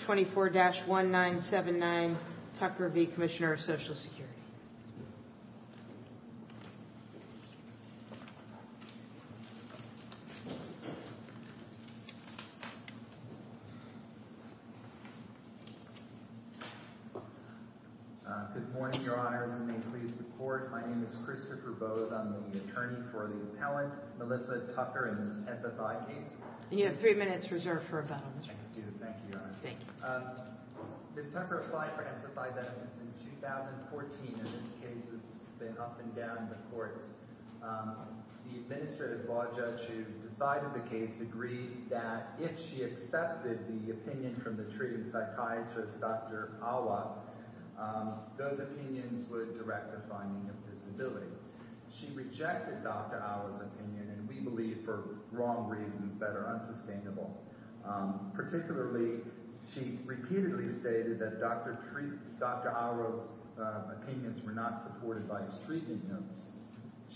24-1979 Tucker v. Commissioner of Social Security Good morning, Your Honors, and may it please the Court. My name is Christopher Bowes. I'm the attorney for the appellant, Melissa Tucker, in this SSI case. You have three minutes reserved for rebuttal, Mr. Bowes. Thank you, Your Honor. Thank you. Ms. Tucker applied for SSI benefits in 2014, and this case has been up and down the courts. The administrative law judge who decided the case agreed that if she accepted the opinion from the treating psychiatrist, Dr. Awa, those opinions would direct the finding of disability. She rejected Dr. Awa's opinion, and we believe for wrong reasons that are unsustainable, particularly she repeatedly stated that Dr. Awa's opinions were not supported by his treatment notes.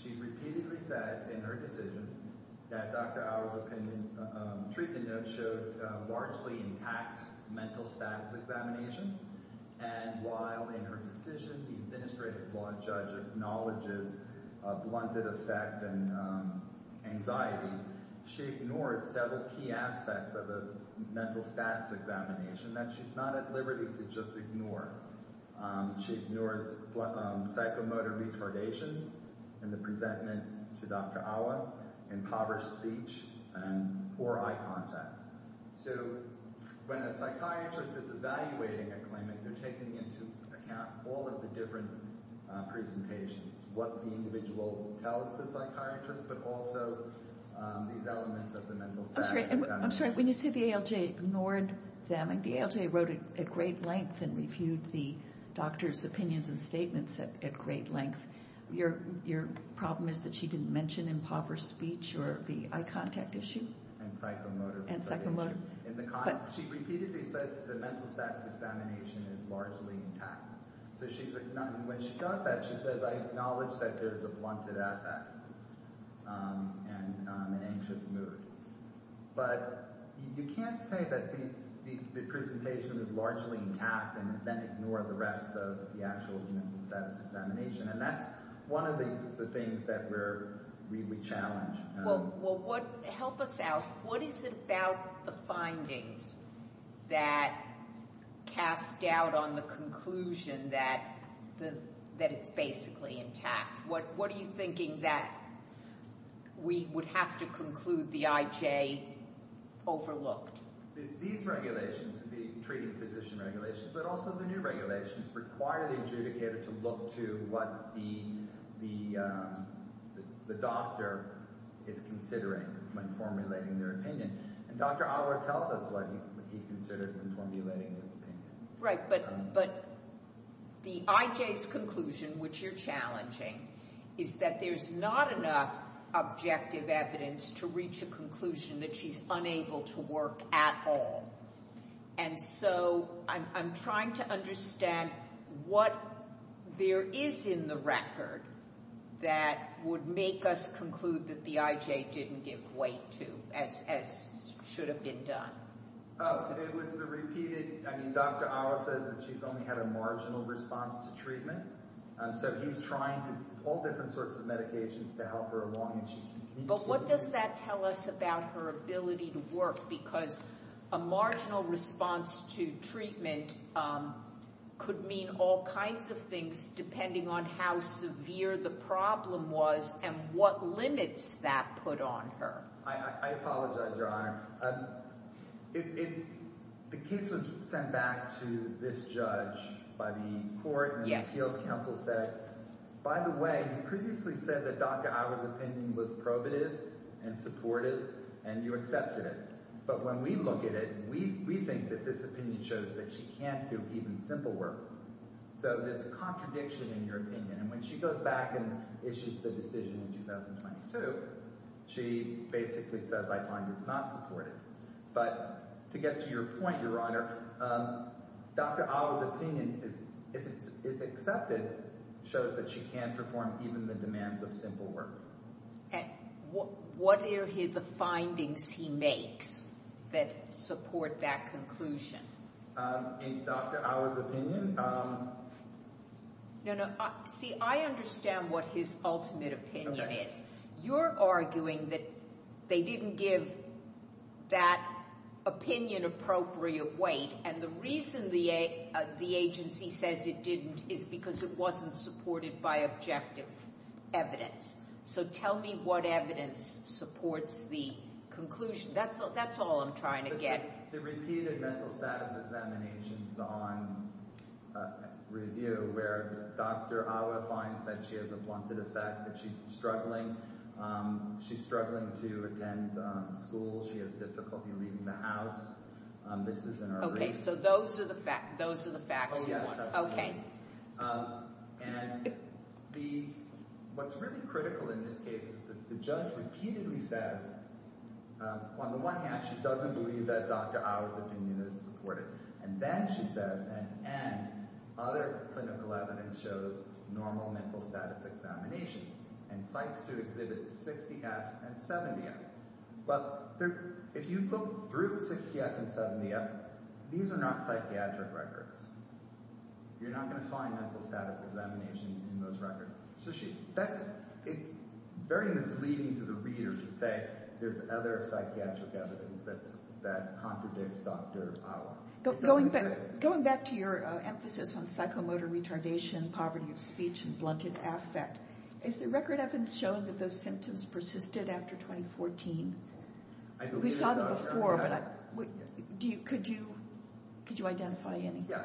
She repeatedly said in her decision that Dr. Awa's treatment notes showed largely intact mental status examination, and while in her decision the administrative law judge acknowledges a blunted effect and anxiety, she ignores several key aspects of a mental status examination that she's not at liberty to just ignore. She ignores psychomotor retardation in the presentment to Dr. Awa, impoverished speech, and poor eye contact. So when a psychiatrist is evaluating a claimant, they're taking into account all of the different presentations, what the individual tells the psychiatrist, but also these elements of the mental status examination. I'm sorry, when you say the ALJ ignored them, the ALJ wrote at great length and reviewed the doctor's opinions and statements at great length. Your problem is that she didn't mention impoverished speech or the eye contact issue? And psychomotor. And psychomotor. She repeatedly says that the mental status examination is largely intact. So when she does that, she says, I acknowledge that there's a blunted effect and an anxious mood. But you can't say that the presentation is largely intact and then ignore the rest of the actual mental status examination. And that's one of the things that we challenge. Well, help us out. What is it about the findings that cast doubt on the conclusion that it's basically intact? What are you thinking that we would have to conclude the IJ overlooked? These regulations, the treating physician regulations, but also the new regulations require the adjudicator to look to what the doctor is considering when formulating their opinion. And Dr. Ottawa tells us what he considered when formulating his opinion. Right, but the IJ's conclusion, which you're challenging, is that there's not enough objective evidence to reach a conclusion that she's unable to work at all. And so I'm trying to understand what there is in the record that would make us conclude that the IJ didn't give weight to, as should have been done. It was the repeated, I mean, Dr. Ottawa says that she's only had a marginal response to treatment. So he's trying all different sorts of medications to help her along. But what does that tell us about her ability to work? Because a marginal response to treatment could mean all kinds of things depending on how severe the problem was and what limits that put on her. I apologize, Your Honor. The case was sent back to this judge by the court. Yes. And the appeals counsel said, by the way, you previously said that Dr. Ottawa's opinion was probative and supportive, and you accepted it. But when we look at it, we think that this opinion shows that she can't do even simple work. So there's contradiction in your opinion. And when she goes back and issues the decision in 2022, she basically says, I find it's not supportive. But to get to your point, Your Honor, Dr. Ottawa's opinion, if accepted, shows that she can't perform even the demands of simple work. And what are the findings he makes that support that conclusion? In Dr. Ottawa's opinion? No, no. See, I understand what his ultimate opinion is. You're arguing that they didn't give that opinion appropriate weight, and the reason the agency says it didn't is because it wasn't supported by objective evidence. So tell me what evidence supports the conclusion. That's all I'm trying to get. The repeated mental status examinations on review where Dr. Ottawa finds that she has a wanted effect, that she's struggling. She's struggling to attend school. She has difficulty leaving the house. This is in her race. Okay. So those are the facts. Those are the facts you want. Oh, yes. That's what I mean. And what's really critical in this case is that the judge repeatedly says, on the one hand, she doesn't believe that Dr. Ottawa's opinion is supportive. And then she says, and other clinical evidence shows normal mental status examination and cites to exhibit 60F and 70F. Well, if you look through 60F and 70F, these are not psychiatric records. You're not going to find mental status examination in those records. So it's very misleading to the reader to say there's other psychiatric evidence that contradicts Dr. Ottawa. Going back to your emphasis on psychomotor retardation, poverty of speech, and blunted affect, is the record evidence showing that those symptoms persisted after 2014? We saw them before, but could you identify any? Yes.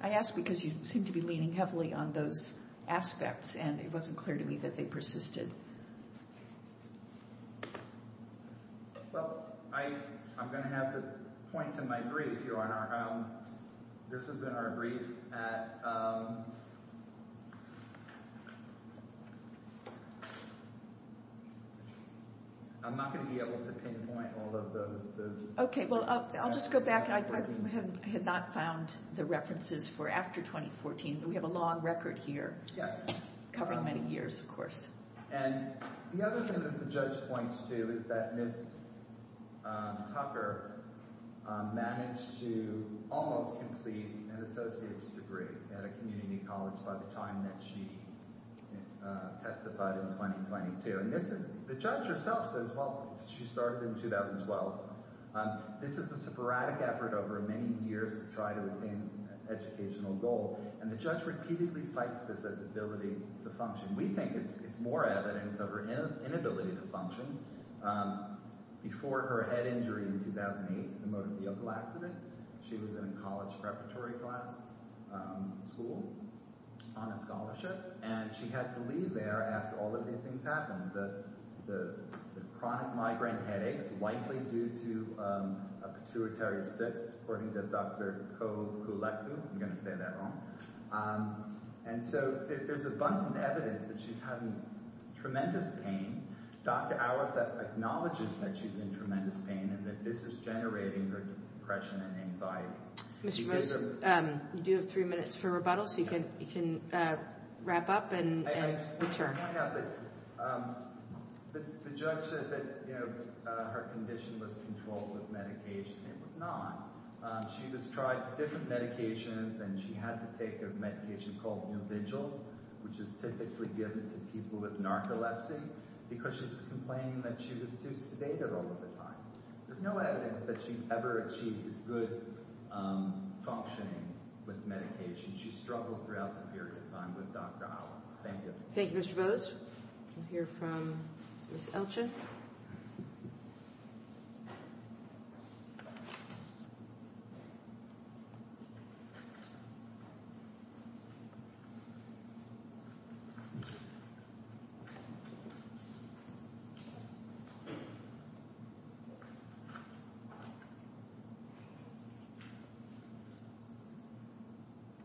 I ask because you seem to be leaning heavily on those aspects, and it wasn't clear to me that they persisted. Well, I'm going to have to point to my brief, Your Honor. This is in our brief at... I'm not going to be able to pinpoint all of those. Okay, well, I'll just go back. I had not found the references for after 2014. We have a long record here. Yes. Covering many years, of course. And the other thing that the judge points to is that Ms. Tucker managed to almost complete an associate's degree at a community college by the time that she testified in 2022. And the judge herself says, well, she started in 2012. This is a sporadic effort over many years to try to attain an educational goal. And the judge repeatedly cites this as ability to function. We think it's more evidence of her inability to function. Before her head injury in 2008, the motor vehicle accident, she was in a college preparatory class, school, on a scholarship. And she had to leave there after all of these things happened. The chronic migraine headaches, likely due to a pituitary cyst, according to Dr. Koukoulekou. I'm going to say that wrong. And so there's abundant evidence that she's had tremendous pain. Dr. Arasat acknowledges that she's in tremendous pain and that this is generating her depression and anxiety. Mr. Rose, you do have three minutes for rebuttal, so you can wrap up and return. I just want to point out that the judge said that her condition was controlled with medication. It was not. She just tried different medications, and she had to take a medication called Nuvigil, which is typically given to people with narcolepsy, because she was complaining that she was too sedated all of the time. There's no evidence that she ever achieved good functioning with medication. She struggled throughout the period of time with Dr. Allen. Thank you. Thank you, Mr. Rose. We'll hear from Ms. Elchin.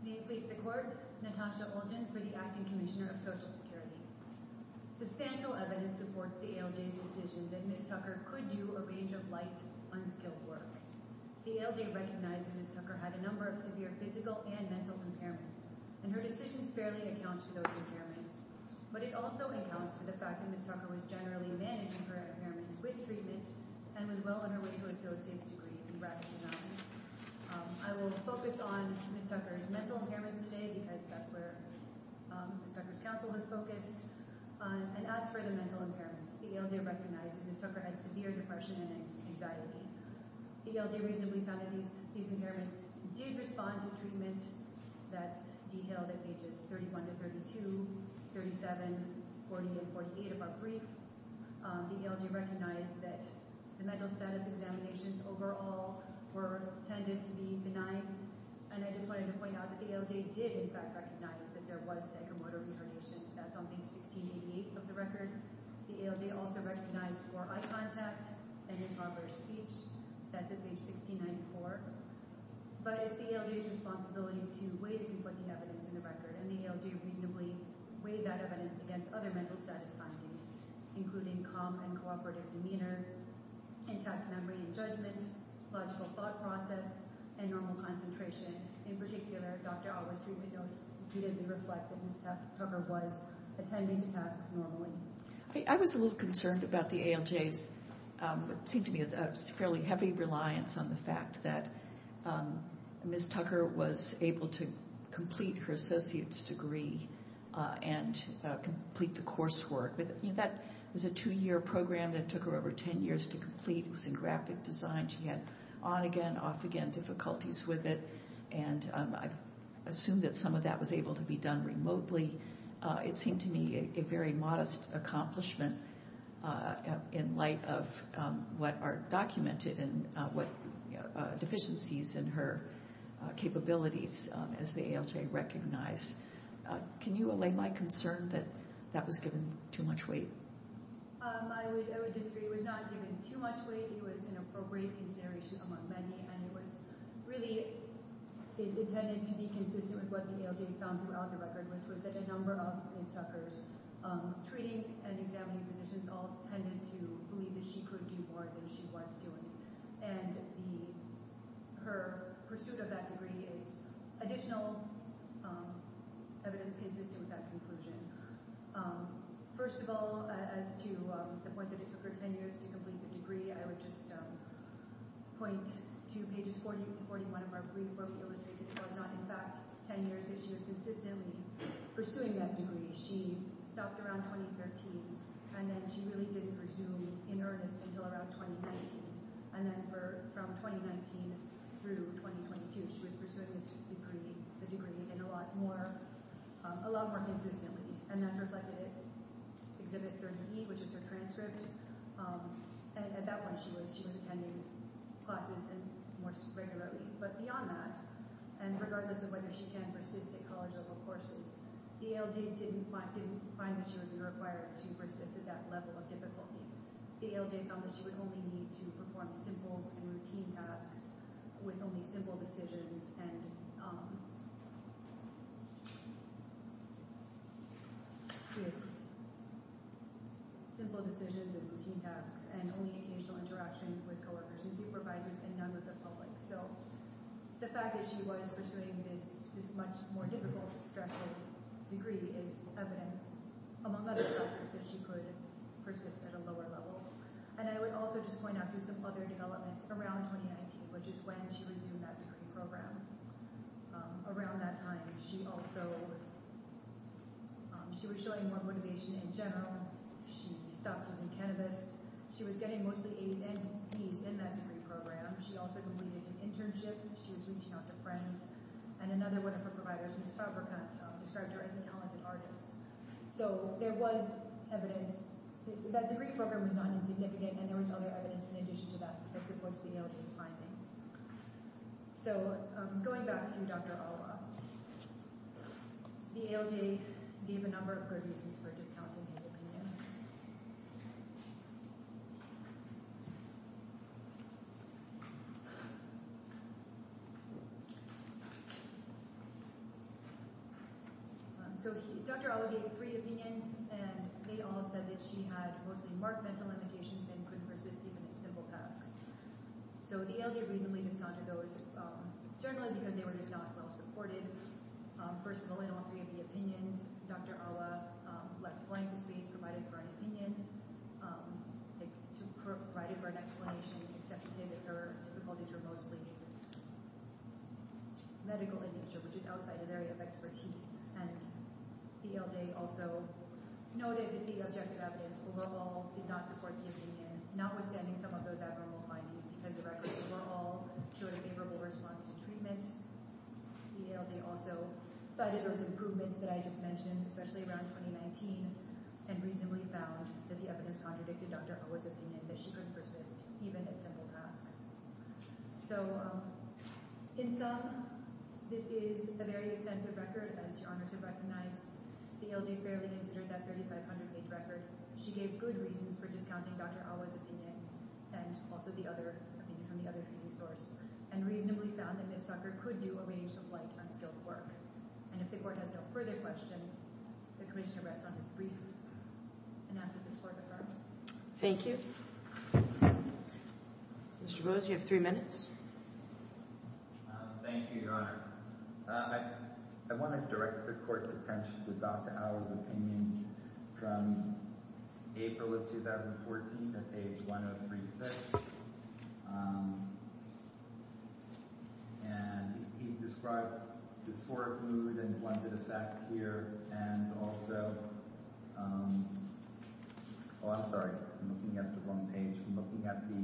May it please the Court, Natasha Elchin for the Acting Commissioner of Social Security. Substantial evidence supports the ALJ's decision that Ms. Tucker could do a range of light, unskilled work. The ALJ recognized that Ms. Tucker had a number of severe physical and mental impairments, and her decision fairly accounts for those impairments, but it also accounts for the fact that Ms. Tucker was generally managing her impairments with treatment and was well on her way to a associate's degree in graphic design. I will focus on Ms. Tucker's mental impairments today, because that's where Ms. Tucker's counsel was focused, and as for the mental impairments, the ALJ recognized that Ms. Tucker had severe depression and anxiety. The ALJ reasonably found that these impairments did respond to treatment. That's detailed at pages 31 to 32, 37, 40, and 48 of our brief. The ALJ recognized that the mental status examinations overall tended to be benign, and I just wanted to point out that the ALJ did, in fact, recognize that there was psychomotor retardation. That's on page 1688 of the record. The ALJ also recognized poor eye contact and improper speech. That's at page 1694. But it's the ALJ's responsibility to weigh the people with the evidence in the record, and the ALJ reasonably weighed that evidence against other mental status findings, including calm and cooperative demeanor, intact memory and judgment, logical thought process, and normal concentration. In particular, Dr. Alwes' treatment notes repeatedly reflect that Ms. Tucker was attending to tasks normally. I was a little concerned about the ALJ's, what seemed to me, fairly heavy reliance on the fact that Ms. Tucker was able to complete her associate's degree and complete the course work. That was a two-year program that took her over ten years to complete. It was in graphic design. She had on-again, off-again difficulties with it, and I assume that some of that was able to be done remotely. It seemed to me a very modest accomplishment in light of what are documented and what deficiencies in her capabilities as the ALJ recognized. Can you allay my concern that that was given too much weight? I would disagree. It was not given too much weight. It was an appropriate consideration among many, and it was really intended to be consistent with what the ALJ found throughout the record, which was that a number of Ms. Tucker's treating and examining physicians all tended to believe that she could do more than she was doing. Her pursuit of that degree is additional evidence consistent with that conclusion. First of all, as to the point that it took her ten years to complete the degree, I would point to pages 40-41 of our brief where we illustrate that it was not in fact ten years, but she was consistently pursuing that degree. She stopped around 2013, and then she really didn't pursue in earnest until around 2019. Then from 2019 through 2022, she was pursuing the degree a lot more consistently. That's reflected in Exhibit 30E, which is her transcript. At that point, she was attending classes more regularly. But beyond that, and regardless of whether she can persist at college or other courses, the ALJ didn't find that she would be required to persist at that level of difficulty. The ALJ found that she would only need to perform simple and routine tasks with only occasional interaction with coworkers and supervisors and none with the public. The fact that she was pursuing this much more difficult, stressful degree is evidence, among other factors, that she could persist at a lower level. I would also just point out some other developments around 2019, which is when she resumed that degree program. Around that time, she was showing more motivation in general. She stopped using cannabis. She was getting mostly A's and B's in that degree program. She also completed an internship. She was reaching out to friends. And another one of her providers, Ms. Fabricant, described her as a talented artist. So there was evidence. That degree program was not insignificant, and there was other evidence in addition to that that supports the ALJ's finding. Going back to Dr. Alwa, the ALJ gave a number of good reasons for discounting his opinion. Dr. Alwa gave three opinions, and they all said that she had mostly marked mental limitations and couldn't persist even at simple tasks. So the ALJ reasonably discounted those, generally because they were just not well-supported. First of all, in all three of the opinions, Dr. Alwa left blank the space provided for an opinion, provided for an explanation, except to say that her difficulties were mostly medical in nature, which is outside of the area of expertise. And the ALJ also noted that the objective evidence overall did not support the opinion, notwithstanding some of those abnormal findings, because the records overall showed a favorable response to treatment. The ALJ also cited those improvements that I just mentioned, especially around 2019, and reasonably found that the evidence contradicted Dr. Alwa's opinion that she couldn't persist even at simple tasks. So in sum, this is a very extensive record, as Your Honors have recognized. The ALJ fairly considered that 3,500-page record. She gave good reasons for discounting Dr. Alwa's opinion, and also the other opinion from the other source, and reasonably found that Ms. Zucker could do a range of light, unskilled work. And if the Court has no further questions, the Commissioner rests on this brief, and asks that this Court adjourn. Thank you. Mr. Rose, you have three minutes. Thank you, Your Honor. I want to direct the Court's attention to Dr. Alwa's opinion from April of 2014 at page 1036. And he describes disordered mood and blended effects here, and also—oh, I'm sorry, I'm looking at the wrong page—I'm looking at the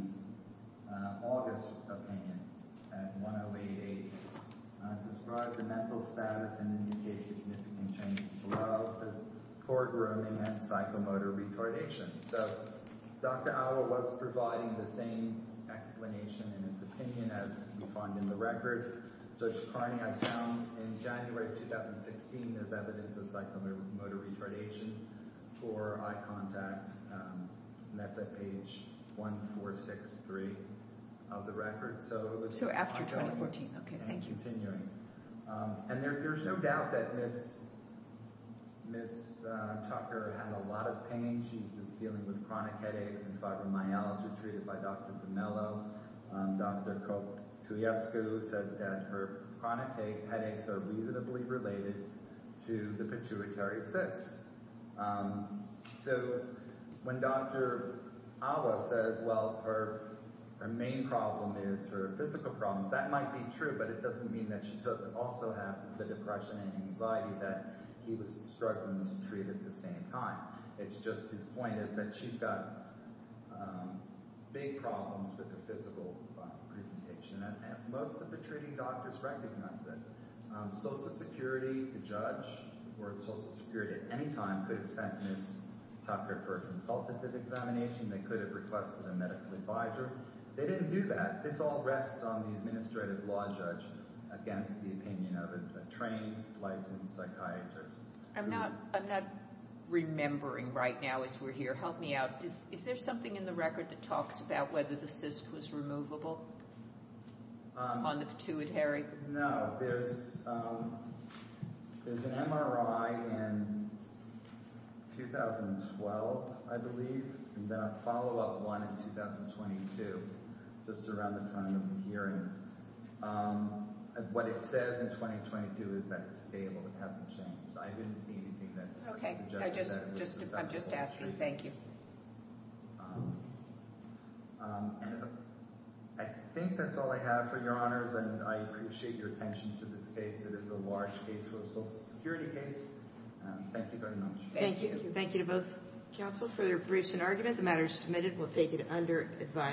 August opinion at 1088. Describes the mental status and indicates significant changes below. It says, for grooming and psychomotor retardation. So Dr. Alwa was providing the same explanation in his opinion as we find in the record. In January of 2016, there's evidence of psychomotor retardation for eye contact, and that's at page 1463 of the record. So after 2014, okay. Thank you. And there's no doubt that Ms. Tucker had a lot of pain. She was dealing with chronic headaches and fibromyalgia treated by Dr. Vimello. Dr. Kouyaskou said that her chronic headaches are reasonably related to the pituitary cyst. So when Dr. Alwa says, well, her main problem is her physical problems, that might be true, but it doesn't mean that she doesn't also have the depression and anxiety that he was struggling to treat at the same time. It's just his point is that she's got big problems with her physical presentation, and most of the treating doctors recognize that. Social Security, the judge, or Social Security at any time could have sent Ms. Tucker for a consultative examination. They could have requested a medical advisor. They didn't do that. This all rests on the administrative law judge against the opinion of a trained, licensed psychiatrist. I'm not remembering right now as we're here. Help me out. Is there something in the record that talks about whether the cyst was removable on the pituitary? No. There's an MRI in 2012, I believe, and then a follow-up one in 2022, just around the time of the hearing. What it says in 2022 is that it's stable. It hasn't changed. I didn't see anything that suggests that. I'm just asking. Thank you. I think that's all I have for Your Honors, and I appreciate your attention to this case. It is a large case for a Social Security case. Thank you very much. Thank you. Thank you to both counsel for their briefs and argument. The matter is submitted. We'll take it under advisory.